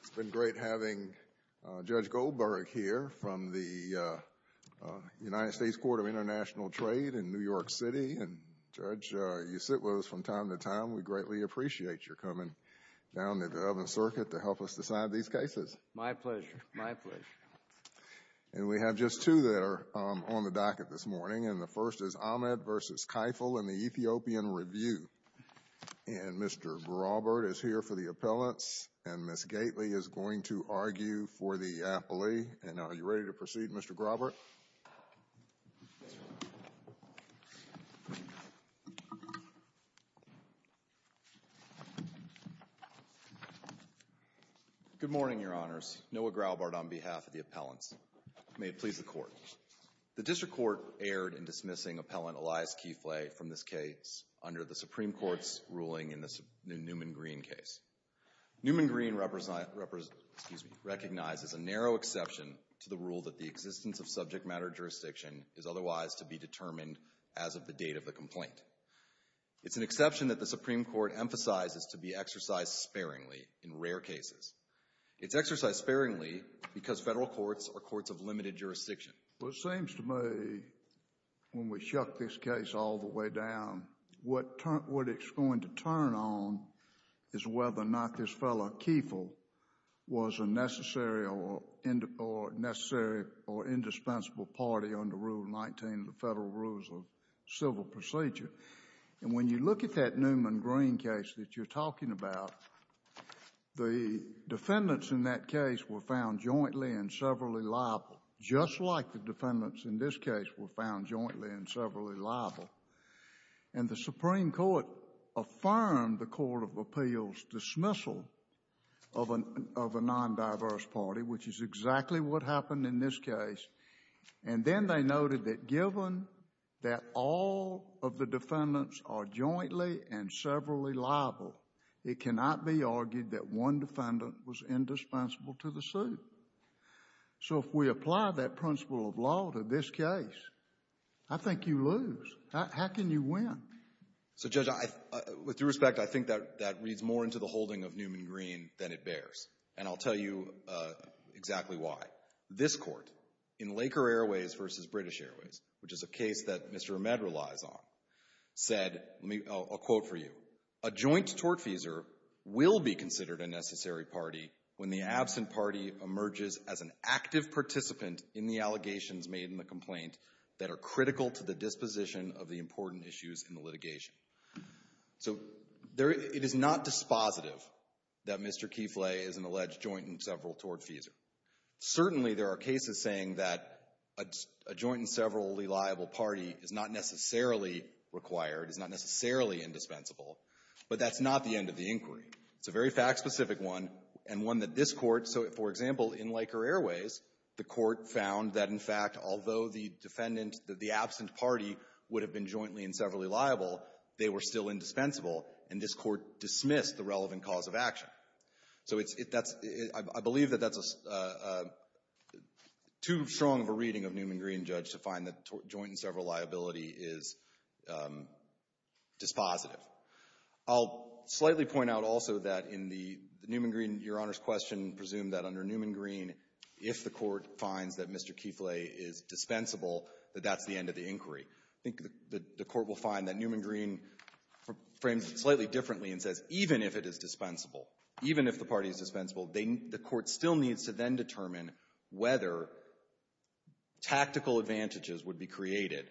It's been great having Judge Goldberg here from the United States Court of International Trade in New York City, and Judge, you sit with us from time to time. We greatly appreciate your coming down to the Oven Circuit to help us decide these cases. My pleasure. My pleasure. And we have just two that are on the docket this morning, and the first is Ahmed v. Kifle in the Ethiopian Review. And Mr. Graubart is here for the appellants, and Ms. Gately is going to argue for the appellee. And are you ready to proceed, Mr. Graubart? Good morning, Your Honors. Noah Graubart on behalf of the appellants. May it please the Court. The District Court erred in dismissing Appellant Elias Kifle from this case under the Supreme Court's ruling in the Newman-Green case. Newman-Green recognizes a narrow exception to the rule that the existence of subject matter jurisdiction is otherwise to be determined as of the date of the complaint. It's an exception that the Supreme Court emphasizes to be exercised sparingly in rare cases. It's exercised sparingly because federal courts are courts of limited jurisdiction. Well, it seems to me when we shut this case all the way down, what it's going to turn on is whether or not this fellow, Kifle, was a necessary or indispensable party under Rule 19 of the Federal Rules of Civil Procedure. And when you look at that Newman-Green case that you're talking about, the defendants in that case were found jointly and severally liable, just like the defendants in this case were found jointly and severally liable. And the Supreme Court affirmed the Court of Appeals' dismissal of a non-diverse party, which is exactly what happened in this case. And then they noted that given that all of the defendants are jointly and severally liable, it cannot be argued that one defendant was indispensable to the suit. So if we apply that principle of law to this case, I think you lose. How can you win? So, Judge, with due respect, I think that reads more into the holding of Newman-Green than it bears. And I'll tell you exactly why. This Court, in Laker Airways v. British Airways, which is a case that Mr. Ahmed relies on, said, I'll quote for you, a joint tortfeasor will be considered a necessary party when the absent party emerges as an active participant in the allegations made in the complaint that are critical to the disposition of the important issues in the litigation. So it is not dispositive that Mr. Kifle is an alleged joint and several-tortfeasor. Certainly, there are cases saying that a joint and severally liable party is not necessarily required, is not necessarily indispensable. But that's not the end of the inquiry. It's a very fact-specific one and one that this Court so, for example, in Laker Airways, the Court found that, in fact, although the defendant, the absent party would have been jointly and severally liable, they were still indispensable, and this Court dismissed the relevant cause of action. So I believe that that's too strong of a reading of Newman Green, Judge, to find that joint and several liability is dispositive. I'll slightly point out also that in the Newman Green, Your Honor's question, presumed that under Newman Green, if the Court finds that Mr. Kifle is dispensable, that that's the end of the inquiry. I think the Court will find that Newman Green frames it slightly differently and says even if it is dispensable, even if the party is dispensable, the Court still needs to then determine whether tactical advantages would be created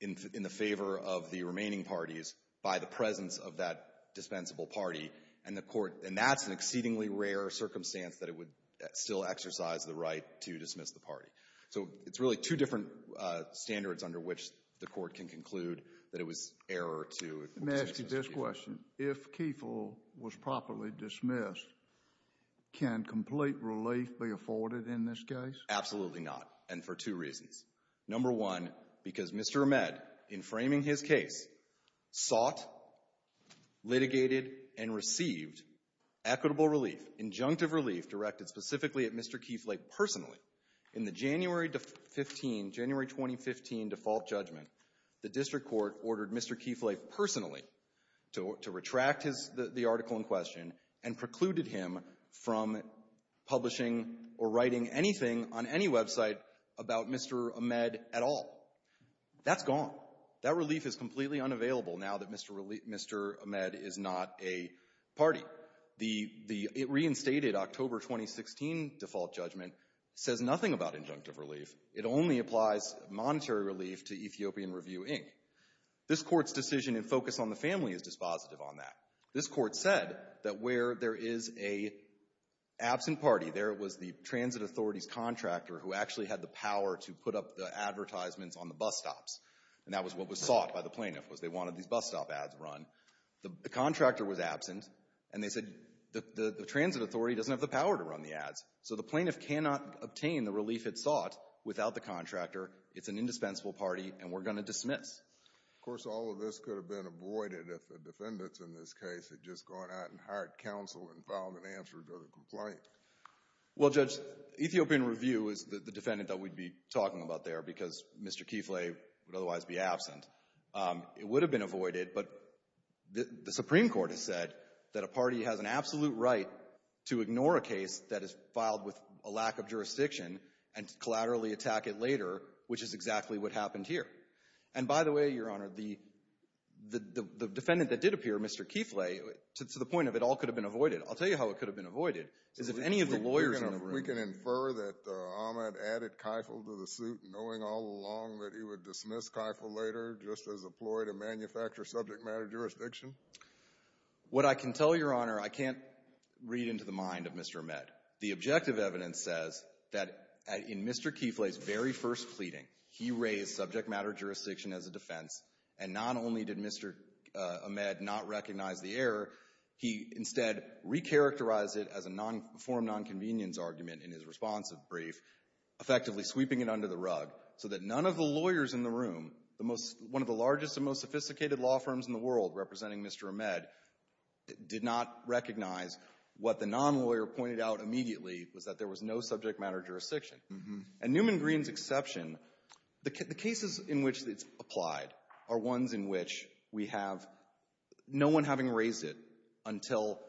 in the favor of the remaining parties by the presence of that dispensable party, and that's an exceedingly rare circumstance that it would still exercise the right to dismiss the party. So it's really two different standards under which the Court can conclude that it was error to dismiss Mr. Kifle. Your Honor's question, if Kifle was properly dismissed, can complete relief be afforded in this case? Absolutely not, and for two reasons. Number one, because Mr. Ahmed, in framing his case, sought, litigated, and received equitable relief, injunctive relief directed specifically at Mr. Kifle personally. In the January 15, January 2015 default judgment, the District Court ordered Mr. Kifle personally to retract the article in question and precluded him from publishing or writing anything on any website about Mr. Ahmed at all. That's gone. That relief is completely unavailable now that Mr. Ahmed is not a party. The reinstated October 2016 default judgment says nothing about injunctive relief. It only applies monetary relief to Ethiopian Review, Inc. This Court's decision and focus on the family is dispositive on that. This Court said that where there is an absent party, there was the transit authority's contractor who actually had the power to put up the advertisements on the bus stops, and that was what was sought by the plaintiff, was they wanted these bus stop ads run. The contractor was absent, and they said the transit authority doesn't have the power to run the ads, so the plaintiff cannot obtain the relief it sought without the contractor. It's an indispensable party, and we're going to dismiss. Of course, all of this could have been avoided if the defendants in this case had just gone out and hired counsel and found an answer to the complaint. Well, Judge, Ethiopian Review is the defendant that we'd be talking about there because Mr. Kifle would otherwise be absent. It would have been avoided, but the Supreme Court has said that a party has an absolute right to ignore a case that is filed with a lack of jurisdiction and to collaterally attack it later, which is exactly what happened here. And, by the way, Your Honor, the defendant that did appear, Mr. Kifle, to the point of it all could have been avoided, I'll tell you how it could have been avoided, is if any of the lawyers in the room... We can infer that Ahmed added Keifel to the suit knowing all along that he would dismiss Keifel later What I can tell you, Your Honor, I can't read into the mind of Mr. Ahmed. The objective evidence says that in Mr. Keifel's very first pleading, he raised subject matter jurisdiction as a defense and not only did Mr. Ahmed not recognize the error, he instead recharacterized it as a form of nonconvenience argument in his responsive brief, effectively sweeping it under the rug so that none of the lawyers in the room, one of the largest and most sophisticated law firms in the world representing Mr. Ahmed, did not recognize what the nonlawyer pointed out immediately was that there was no subject matter jurisdiction. And Newman Green's exception, the cases in which it's applied are ones in which we have no one having raised it until,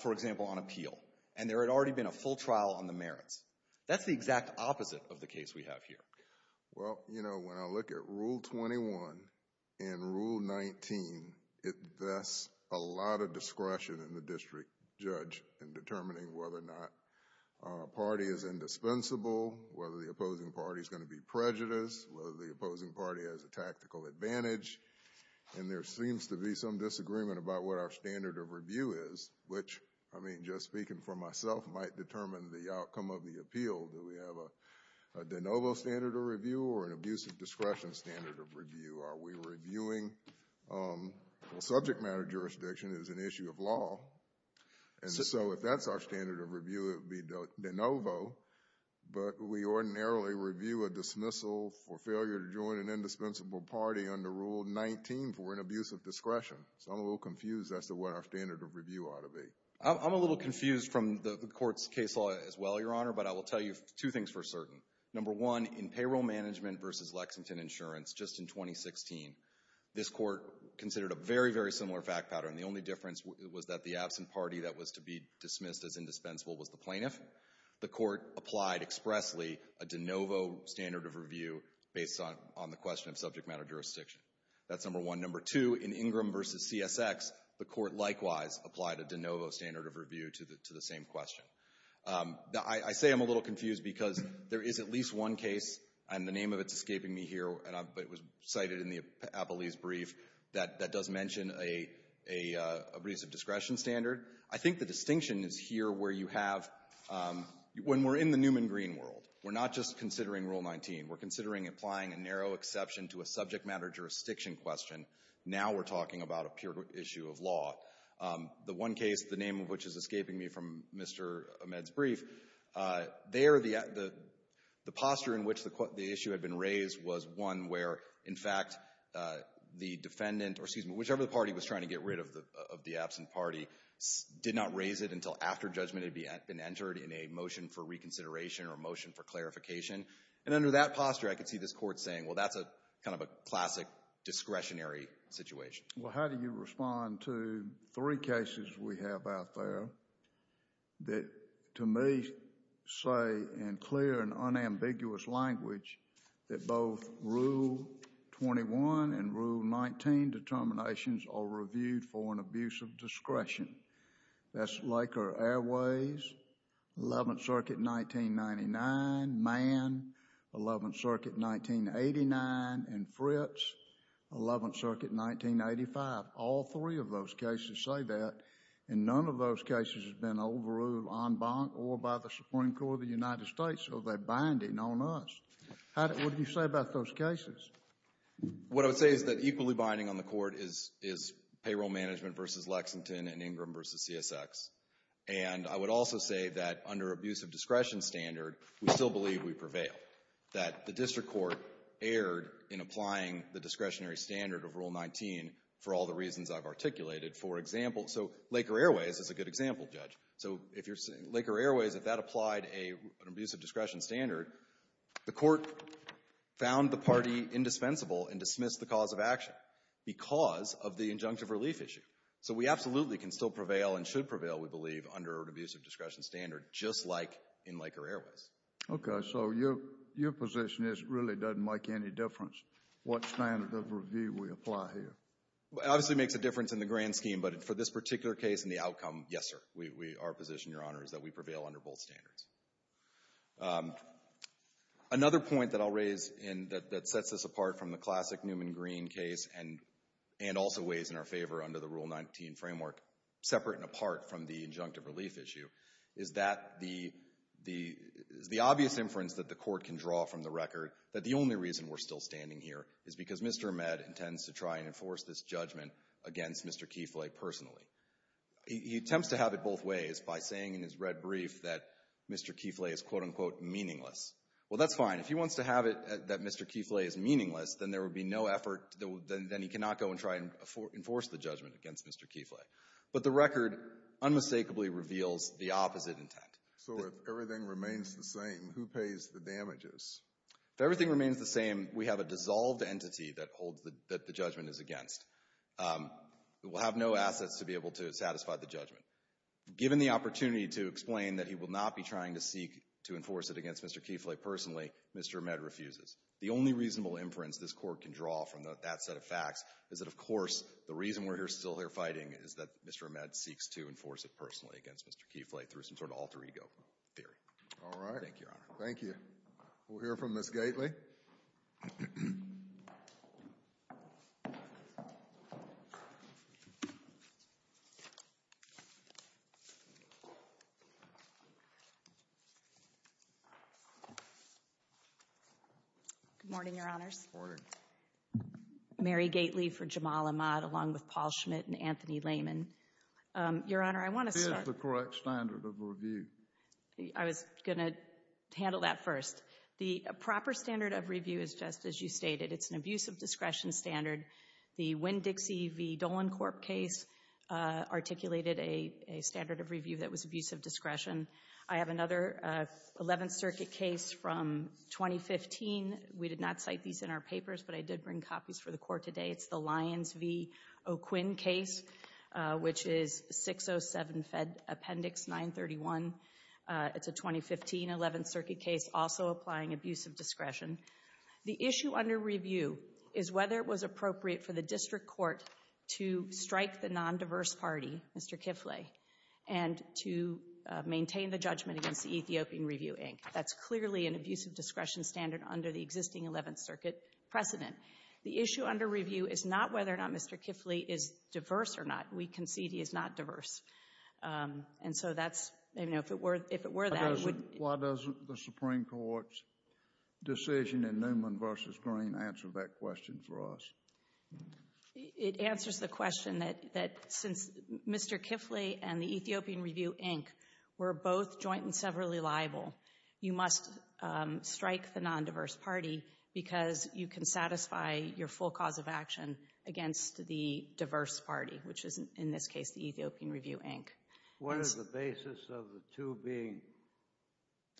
for example, on appeal. And there had already been a full trial on the merits. That's the exact opposite of the case we have here. Well, you know, when I look at Rule 21 and Rule 19, that's a lot of discretion in the district judge in determining whether or not a party is indispensable, whether the opposing party is going to be prejudiced, whether the opposing party has a tactical advantage. And there seems to be some disagreement about what our standard of review is, which, I mean, just speaking for myself, Do we have a de novo standard of review or an abusive discretion standard of review? Are we reviewing subject matter jurisdiction as an issue of law? And so if that's our standard of review, it would be de novo. But we ordinarily review a dismissal for failure to join an indispensable party under Rule 19 for an abusive discretion. So I'm a little confused as to what our standard of review ought to be. I'm a little confused from the court's case law as well, Your Honor, but I will tell you two things for certain. Number one, in Payroll Management v. Lexington Insurance just in 2016, this court considered a very, very similar fact pattern. The only difference was that the absent party that was to be dismissed as indispensable was the plaintiff. The court applied expressly a de novo standard of review based on the question of subject matter jurisdiction. That's number one. Number two, in Ingram v. CSX, the court likewise applied a de novo standard of review to the same question. I say I'm a little confused because there is at least one case and the name of it is escaping me here, but it was cited in the Appellee's brief that does mention an abusive discretion standard. I think the distinction is here where you have, when we're in the Newman green world, we're not just considering Rule 19. We're considering applying a narrow exception to a subject matter jurisdiction question. Now we're talking about a pure issue of law. The one case, the name of which is escaping me from Mr. Ahmed's brief, there the posture in which the issue had been raised was one where, in fact, the defendant or, excuse me, whichever party was trying to get rid of the absent party did not raise it until after judgment had been entered in a motion for reconsideration or a motion for clarification. And under that posture, I could see this court saying, well, that's kind of a classic discretionary situation. Well, how do you respond to three cases we have out there that, to me, say in clear and unambiguous language that both Rule 21 and Rule 19 determinations are reviewed for an abusive discretion? That's Laker Airways, 11th Circuit, 1999, Mann, 11th Circuit, 1989, and Fritz, 11th Circuit, 1985. All three of those cases say that. And none of those cases has been overruled on bond or by the Supreme Court of the United States. So they're binding on us. What do you say about those cases? What I would say is that equally binding on the court is payroll management versus Lexington and Ingram versus CSX. And I would also say that under abusive discretion standard, we still believe we prevail. That the district court erred in applying the discretionary standard of Rule 19 for all the reasons I've articulated. Laker Airways is a good example, Judge. Laker Airways, if that applied an abusive discretion standard, the court found the party indispensable and dismissed the cause of action because of the injunctive relief issue. So we absolutely can still prevail and should prevail, we believe, under an abusive discretion standard just like in Laker Airways. Okay. So your position really doesn't make any difference what standard of review we apply here? It obviously makes a difference in the grand scheme, but for this particular case and the outcome, yes, sir. Our position, Your Honor, is that we prevail under both standards. Another point that I'll raise that sets us apart from the classic Newman-Green case and also weighs in our favor under the Rule 19 framework, separate and apart from the injunctive relief issue, is that the obvious inference that the court can draw from the record that the only reason we're still standing here is because Mr. Ahmed intends to try and enforce this judgment against Mr. Kiefle personally. He attempts to have it both ways by saying in his red brief that Mr. Kiefle is quote-unquote meaningless. Well, that's fine. If he wants to have it that Mr. Kiefle is meaningless, then there would be no effort, then he cannot go and try and enforce the judgment against Mr. Kiefle. But the record unmistakably reveals the opposite intent. So if everything remains the same, who pays the damages? If everything remains the same, we have a dissolved entity that holds that the judgment is against. We will have no assets to be able to satisfy the judgment. Given the opportunity to explain that he will not be trying to seek to enforce it against Mr. Kiefle personally, Mr. Ahmed refuses. The only reasonable inference this court can draw from that set of facts is that of course the reason we're still here fighting is that Mr. Ahmed seeks to enforce it personally against Mr. Kiefle through some sort of alter ego theory. All right. Thank you, Your Honor. We'll hear from Ms. Gately. Good morning, Your Honors. Mary Gately for Jamal Ahmad along with Paul Schmidt and Anthony Layman. Your Honor, I want to start. This is the correct standard of review. I was going to handle that first. The proper standard of review is just as you stated. It's an abuse of discretion standard. The Winn-Dixie v. Dolan Corp case articulated a standard of review that was abuse of discretion. I have another Eleventh Circuit case from 2015. We did not cite these in our papers, but I did bring copies for the court today. It's the Lions v. O'Quinn case which is 607 Appendix 931. It's a 2015 Eleventh Circuit case also applying abuse of discretion. The issue under review is whether it was appropriate for the district court to strike the non-diverse party, Mr. Kiefle, and to maintain the judgment against the Ethiopian Review, Inc. That's clearly an abuse of discretion standard under the existing Eleventh Circuit precedent. The issue under review is not whether or not Mr. Kiefle is diverse or not. We concede he is not diverse. And so that's, you know, if it were that... Why doesn't the Supreme Court's decision in Newman v. Green answer that question for us? It answers the question that since Mr. Kiefle and the Ethiopian Review, Inc. were both joint and severally liable, you must strike the non-diverse party because you can satisfy your full cause of action against the diverse party, which is in this case the Ethiopian Review, Inc. What is the basis of the two being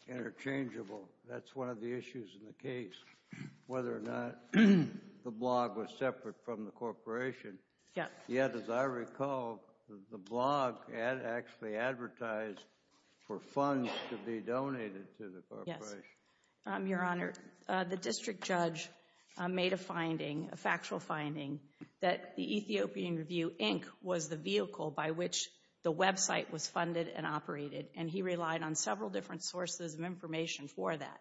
interchangeable? That's one of the issues in the case, whether or not the blog was separate from the corporation. Yet, as I recall, the blog had actually advertised for funds to be donated to the corporation. Your Honor, the district judge made a finding, a factual finding, that the Ethiopian Review, Inc. was the vehicle by which the website was funded and operated, and he relied on several different sources of information for that.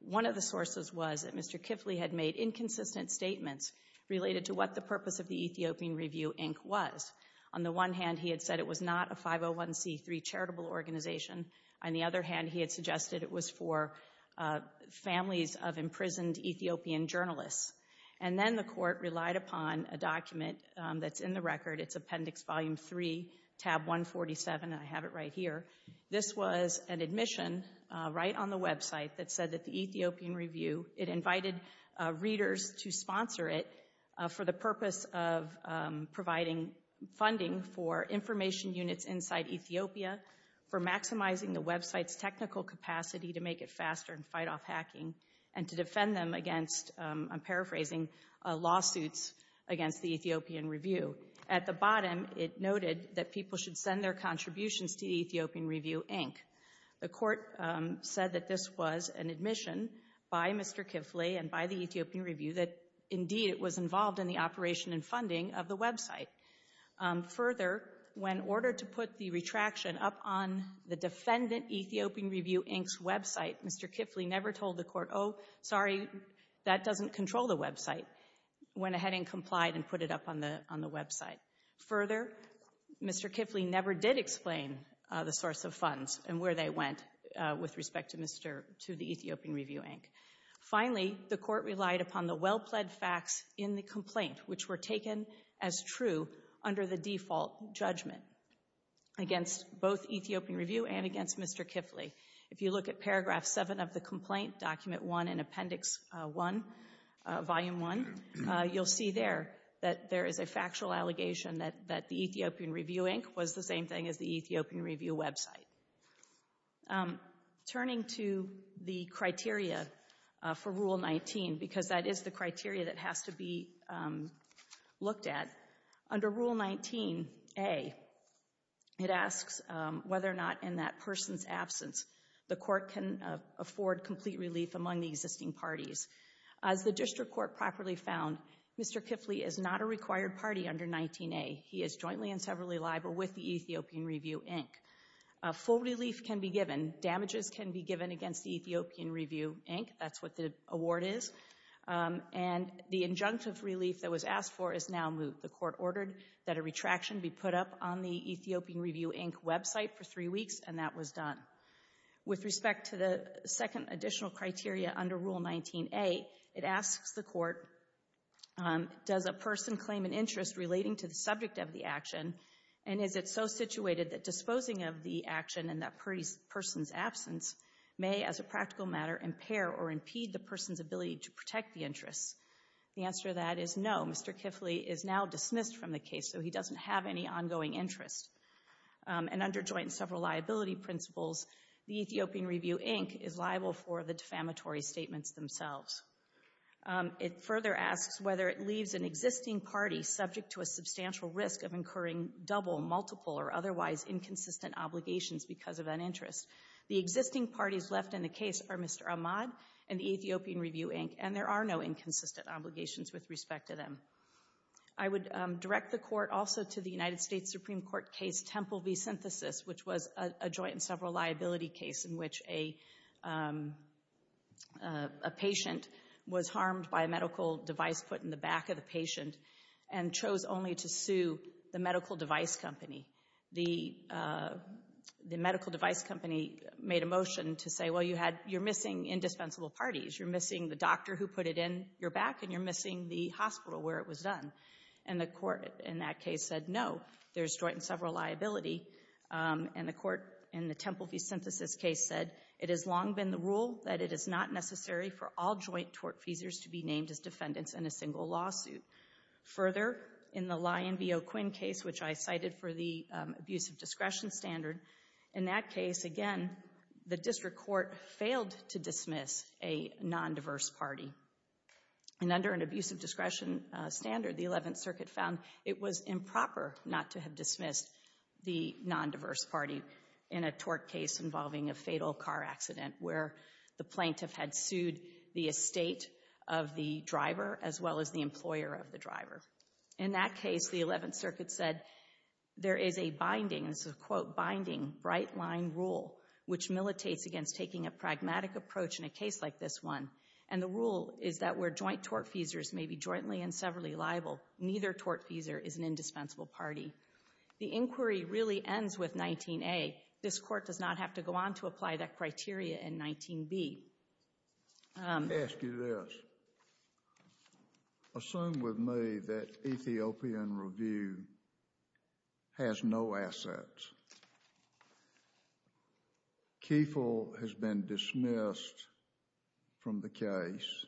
One of the sources was that Mr. Kiefle had made inconsistent statements related to what the purpose of the Ethiopian Review, Inc. was. On the one hand, he had said it was not a 501c3 charitable organization. On the other hand, he had suggested it was for families of imprisoned Ethiopian journalists. Then the court relied upon a document that's in the record. It's Appendix Volume 3, Tab 147. I have it right here. This was an admission right on the website that said that the Ethiopian Review, it invited readers to sponsor it for the purpose of providing funding for information units inside Ethiopia for maximizing the website's technical capacity to make it faster and fight off hacking and to defend them against, I'm paraphrasing, lawsuits against the Ethiopian Review. At the bottom, it noted that people should send their contributions to the Ethiopian Review, Inc. The court said that this was an admission by Mr. Kiefle and by the Ethiopian Review that indeed it was involved in the operation and funding of the website. Further, when ordered to put the retraction up on the defendant Ethiopian Review, Inc.'s website, Mr. Kiefle never told the court, oh, sorry, that doesn't control the website. Went ahead and complied and put it up on the website. Further, Mr. Kiefle never did explain the source of funds and where they went with respect to the Ethiopian Review, Inc. Finally, the court relied upon the well-pled facts in the complaint which were taken as true under the default judgment against both Ethiopian Review and against Mr. Kiefle. If you look at Paragraph 7 of the complaint, Document 1 in Appendix 1, Volume 1, you'll see there that there is a factual allegation that the Ethiopian Review, Inc. was the same thing as the Ethiopian Review website. Turning to the criteria for Rule 19, because that is the criteria that has to be looked at, under Rule 19a, it asks whether or not in that person's absence the court can afford complete relief among the existing parties. As the District Court properly found, Mr. Kiefle is not a required party under 19a. He is jointly and severally liable with the Ethiopian Review, Inc. Full relief can be given. Damages can be given against the Ethiopian Review, Inc. And the injunctive relief that was asked for is now moved. The court ordered that a retraction be put up on the Ethiopian Review, Inc. website for three weeks, and that was done. With respect to the second additional criteria under Rule 19a, it asks the court does a person claim an interest relating to the subject of the action, and is it so situated that disposing of the action in that person's absence may, as a practical matter, impair or impede the person's ability to protect the interest? The answer to that is no. Mr. Kiefle is now dismissed from the case, so he doesn't have any ongoing interest. And under joint and several liability principles, the Ethiopian Review, Inc. is liable for the defamatory statements themselves. It further asks whether it leaves an existing party subject to a substantial risk of incurring double, multiple, or otherwise inconsistent obligations because of an interest. The existing parties left in the case are Mr. Ahmad and the Ethiopian Review, Inc., and there are no inconsistent obligations with respect to them. I would direct the court also to the United States Supreme Court case Temple v. Synthesis, which was a joint and several liability case in which a patient was harmed by a medical device put in the back of the patient and chose only to sue the medical device company. The medical device company made a motion to say, well, you're missing indispensable parties. You're missing the doctor who put it in your back, and you're missing the hospital where it was done. And the court in that case said, no, there's joint and several liability. And the court in the Temple v. Synthesis case said, it has long been the rule that it is not necessary for all joint tortfeasors to be named as defendants in a single lawsuit. Further, in the Lyon v. O'Quinn case, which I cited for the abuse of discretion standard, in that case, again, the district court failed to dismiss a non-diverse party. And under an abuse of discretion standard, the 11th Circuit found it was improper not to have dismissed the non-diverse party in a tort case involving a fatal car accident where the plaintiff had sued the estate of the driver as well as the employer of the driver. In that case, the 11th Circuit said there is a binding, this is a quote, binding, bright-line rule which militates against taking a pragmatic approach in a case like this one. And the rule is that where joint tortfeasors may be jointly and severally liable, neither tortfeasor is an indispensable party. The inquiry really ends with 19A. This Court does not have to go on to apply that criteria in 19B. I ask you this. Assume with me that Ethiopian Review has no assets. Kefil has been dismissed from the case.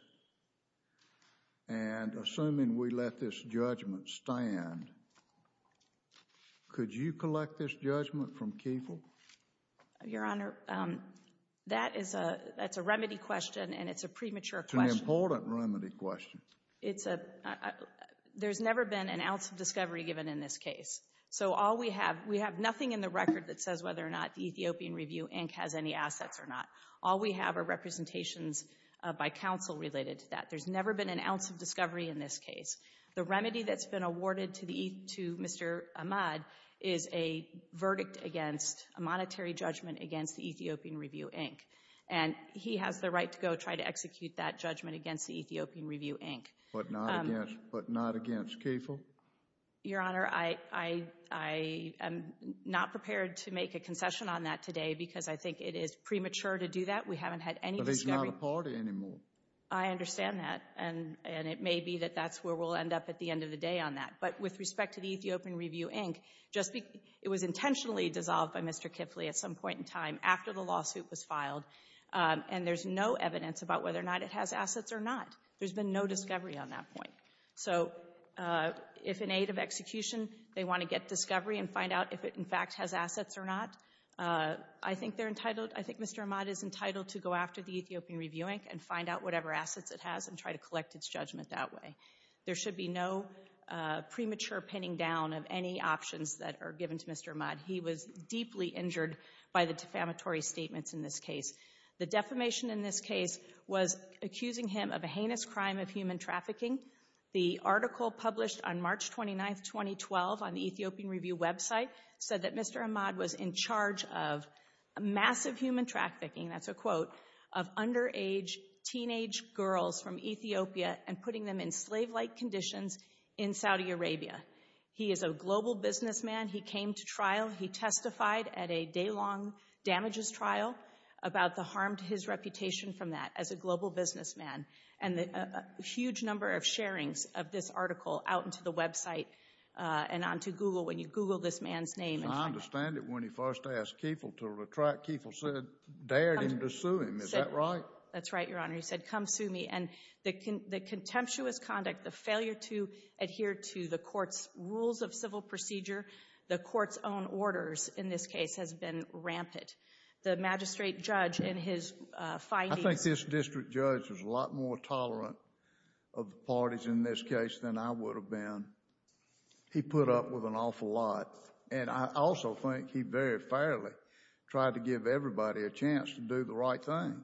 And assuming we let this judgment stand, could you collect this judgment from Kefil? Your Honor, that is a remedy question and it's a premature question. It's an important remedy question. There's never been an ounce of discovery given in this case. So all we have, we have nothing in the Ethiopian Review Inc. has any assets or not. All we have are representations by counsel related to that. There's never been an ounce of discovery in this case. The remedy that's been awarded to Mr. Ahmad is a verdict against a monetary judgment against the Ethiopian Review Inc. And he has the right to go try to execute that judgment against the Ethiopian Review Inc. But not against Kefil? Your Honor, I am not prepared to make a concession on that today because I think it is premature to do that. We haven't had any discovery. But he's not a party anymore. I understand that. And it may be that that's where we'll end up at the end of the day on that. But with respect to the Ethiopian Review Inc., it was intentionally dissolved by Mr. Kefil at some point in time after the lawsuit was filed. And there's no evidence about whether or not it has assets or not. There's been no discovery on that point. So if in aid of execution, they want to get discovery and find out if it in fact has assets or not, I think they're entitled, I think Mr. Ahmad is entitled to go after the Ethiopian Review Inc. and find out whatever assets it has and try to collect its judgment that way. There should be no premature pinning down of any options that are given to Mr. Ahmad. He was deeply injured by the defamatory statements in this case. The defamation in this case was accusing him of a heinous crime of human trafficking. The article published on the Ethiopian Review website said that Mr. Ahmad was in charge of massive human trafficking, that's a quote, of underage teenage girls from Ethiopia and putting them in slave-like conditions in Saudi Arabia. He is a global businessman. He came to trial. He testified at a day-long damages trial about the harm to his reputation from that as a global businessman. And a huge number of sharings of this article out to Google when you Google this man's name. I understand that when he first asked Kieffel to retract, Kieffel said, dared him to sue him. Is that right? That's right, Your Honor. He said, come sue me. And the contemptuous conduct, the failure to adhere to the court's rules of civil procedure, the court's own orders in this case has been rampant. The magistrate judge in his findings. I think this district judge was a lot more tolerant of the parties in this case than I would have been. He put up with an awful lot. And I also think he very fairly tried to give everybody a chance to do the right thing.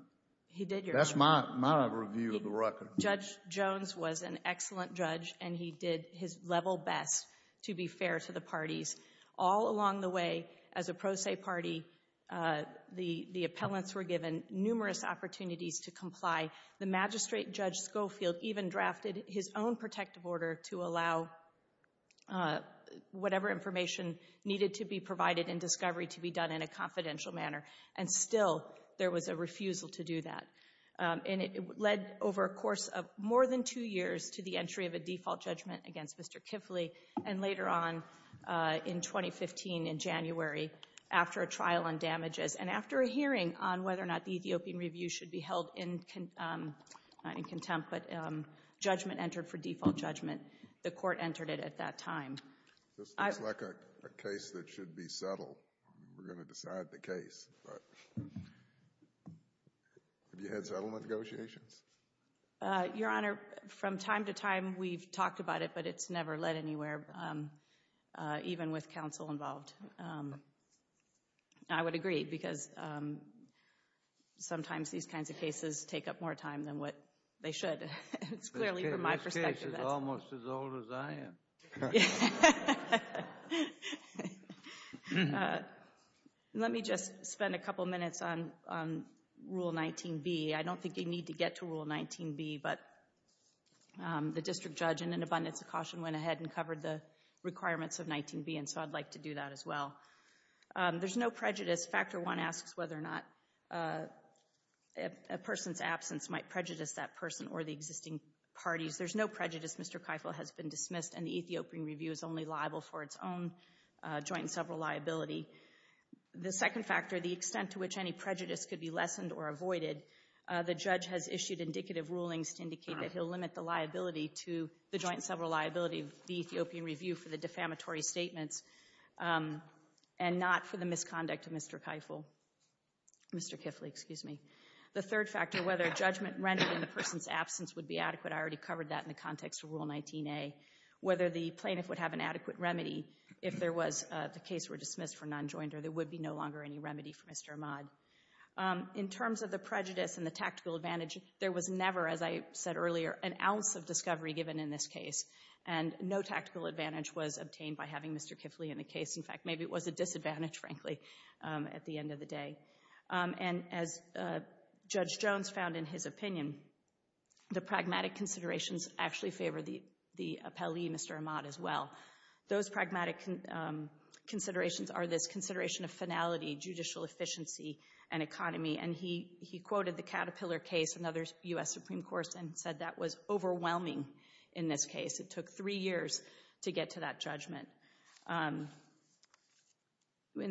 He did, Your Honor. That's my review of the record. Judge Jones was an excellent judge and he did his level best to be fair to the parties. All along the way, as a pro se party, the appellants were given numerous opportunities to comply. The magistrate judge Schofield even drafted his own protective order to allow whatever information needed to be provided in discovery to be done in a confidential manner. And still, there was a refusal to do that. And it led, over a course of more than two years, to the entry of a default judgment against Mr. Kiffley. And later on, in 2015, in January, after a trial on damages, and after a hearing on whether or not the Ethiopian Review should be held in contempt, but judgment entered for default judgment, the Court entered it at that time. This looks like a case that should be settled. We're going to decide the case. Have you had settlement negotiations? Your Honor, from time to time, we've talked about it, but it's never led anywhere, even with counsel involved. I would agree, because sometimes these kinds of cases take up more time than what they should. It's clearly from my perspective. This case is almost as old as I am. Let me just spend a couple minutes on Rule 19b. I don't think you need to get to Rule 19b, but the district judge, in an abundance of caution, went ahead and covered the requirements of 19b, and so I'd like to do that as well. There's no prejudice. Factor 1 asks whether or not a person's absence might prejudice that person or the existing parties. There's no prejudice. Mr. Keifel has been dismissed, and the Ethiopian review is only liable for its own joint and several liability. The second factor, the extent to which any prejudice could be lessened or avoided, the judge has issued indicative rulings to indicate that he'll limit the liability to the joint and several liability of the Ethiopian review for the defamatory statements and not for the misconduct of Mr. Keifel Mr. Keifel, excuse me. The third factor, whether a judgment rendered in the person's absence would be adequate. I already covered that in the context of Rule 19a. Whether the plaintiff would have an adequate remedy if there was the case were dismissed for non-joinder. There would be no longer any remedy for Mr. Ahmad. In terms of the prejudice and the tactical advantage, there was never, as I said earlier, an ounce of discovery given in this case, and no tactical advantage was obtained by having Mr. Keifel in the case. In fact, maybe it was a disadvantage, frankly, at the end of the day. And as Judge Jones found in his opinion, the pragmatic considerations actually favor the appellee, Mr. Ahmad, as well. Those pragmatic considerations are this consideration of finality, judicial efficiency, and economy. And he quoted the Caterpillar case, another U.S. Supreme Court, and said that was overwhelming in this case. It took three years to get to that judgment. In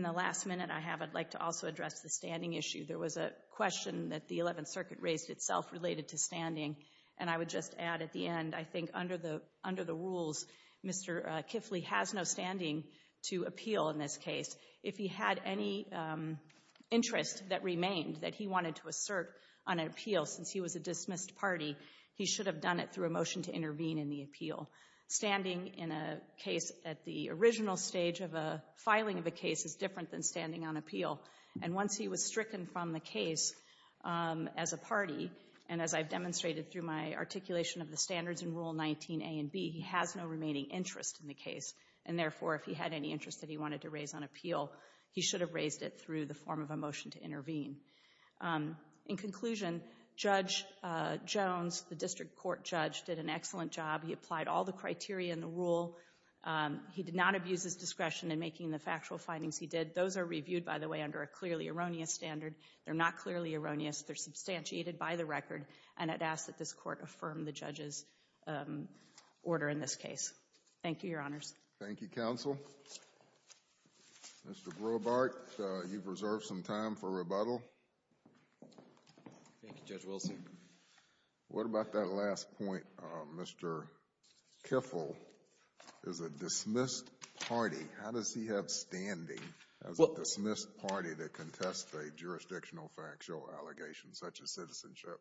the last minute I have, I'd like to also address the standing issue. There was a question that the Eleventh Circuit raised itself related to standing, and I would just add at the end, I think under the rules, Mr. Kifley has no standing to appeal in this case. If he had any interest that remained that he wanted to assert on an appeal since he was a dismissed party, he should have done it through a motion to intervene in the appeal. Standing in a case at the original stage of a filing of a case is different than standing on appeal. And once he was stricken from the case as a party, and as I've demonstrated through my articulation of the standards in Rule 19a and b, he has no remaining interest in the case. And therefore, if he had any interest that he wanted to raise on appeal, he should have raised it through the form of a motion to intervene. In conclusion, Judge Jones, the district court judge, did an excellent job. He applied all the criteria in the rule. He did not abuse his discretion in making the factual findings he did. Those are reviewed, by the way, under a clearly erroneous standard. They're not clearly erroneous. They're substantiated by the record. And I'd ask that this Court affirm the judge's order in this case. Thank you, Your Honors. Thank you, counsel. Mr. Grohbart, you've reserved some time for rebuttal. Thank you, Judge Wilson. What about that last point, Mr. Kiffel? As a dismissed party, how does he have standing as a dismissed party to contest a jurisdictional factual allegation such as citizenship?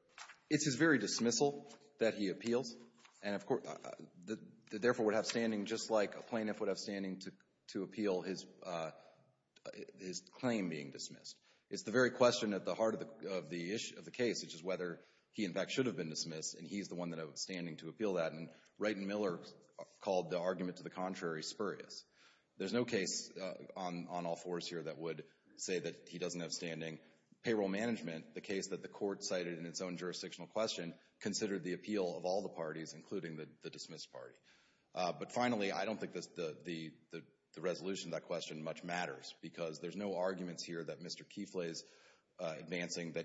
It's his very dismissal that he appeals. And, of course, therefore would have standing just like a plaintiff would have standing to appeal his claim being dismissed. It's the very question at the heart of the case, which is whether he, in fact, should have been dismissed. And he's the one that has standing to appeal that. And Wright and Miller called the argument to the contrary spurious. There's no case on all fours here that would say that he doesn't have standing. Payroll management, the case that the Court cited in its own jurisdictional question, considered the appeal of all the parties, including the dismissed party. But, finally, I don't think the resolution to that question much matters because there's no arguments here that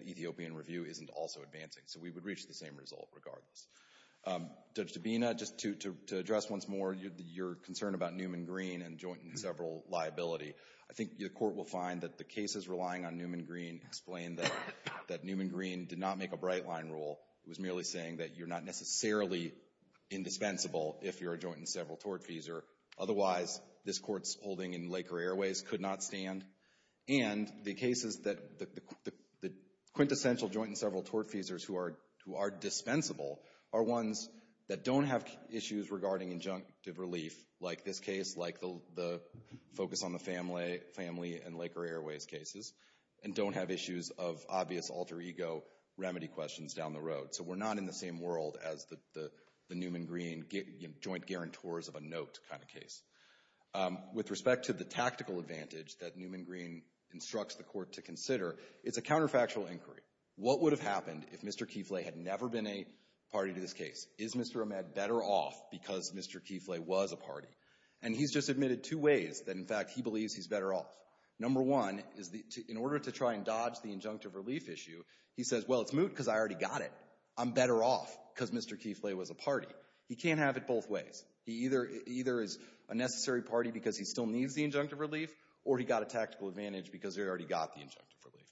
Ethiopian review isn't also advancing. So we would reach the same result regardless. Judge Dabena, just to address once more your concern about Newman-Green and joint and several liability, I think the Court will find that the cases relying on Newman-Green explain that Newman-Green did not make a bright-line rule. It was merely saying that you're not necessarily indispensable if you're a joint and several tortfeasor. Otherwise, this Court's holding in Laker Airways could not stand. And the quintessential joint and several tortfeasors who are dispensable are ones that don't have issues regarding injunctive relief, like this case, like the focus on the family in Laker Airways cases, and don't have issues of obvious alter ego remedy questions down the road. So we're not in the same world as the Newman-Green joint guarantors of a note kind of case. With respect to the tactical advantage that Newman-Green instructs the Court to consider, it's a counterfactual inquiry. What would have happened if Mr. Keeflay had never been a party to this case? Is Mr. Ahmed better off because Mr. Keeflay was a party? And he's just admitted two ways that, in fact, he believes he's better off. Number one is, in order to try and dodge the injunctive relief issue, he says, well, it's moot because I already got it. I'm better off because Mr. Keeflay was a party. He can't have it both ways. He either is a necessary party because he still needs the injunctive relief, or he got a tactical advantage because he already got the injunctive relief.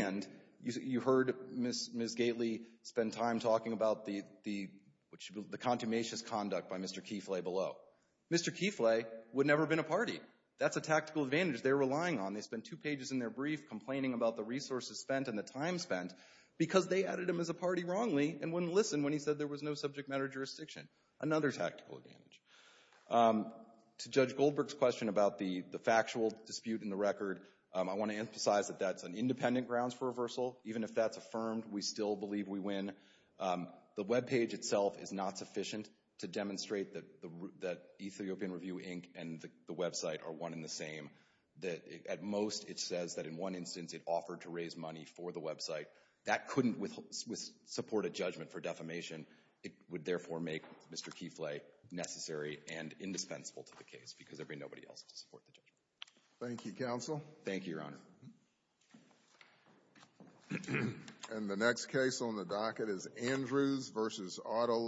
And you heard Ms. Gately spend time talking about the contumacious conduct by Mr. Keeflay below. Mr. Keeflay would never have been a party. That's a tactical advantage they're relying on. They spent two pages in their brief complaining about the resources spent and the time spent because they added him as a party wrongly and wouldn't listen when he said there was no subject matter jurisdiction. Another tactical advantage. To Judge Goldberg's question about the factual dispute in the record, I want to emphasize that that's an independent grounds for reversal. Even if that's affirmed, we still believe we win. The webpage itself is not sufficient to demonstrate that Ethiopian Review, Inc. and the website are one and the same. At most, it says that in one instance it offered to raise money for the website. That couldn't support a judgment for defamation. It would therefore make Mr. Keeflay necessary and indispensable to the case because there'd be nobody else to support the judgment. Thank you, Counsel. Thank you, Your Honor.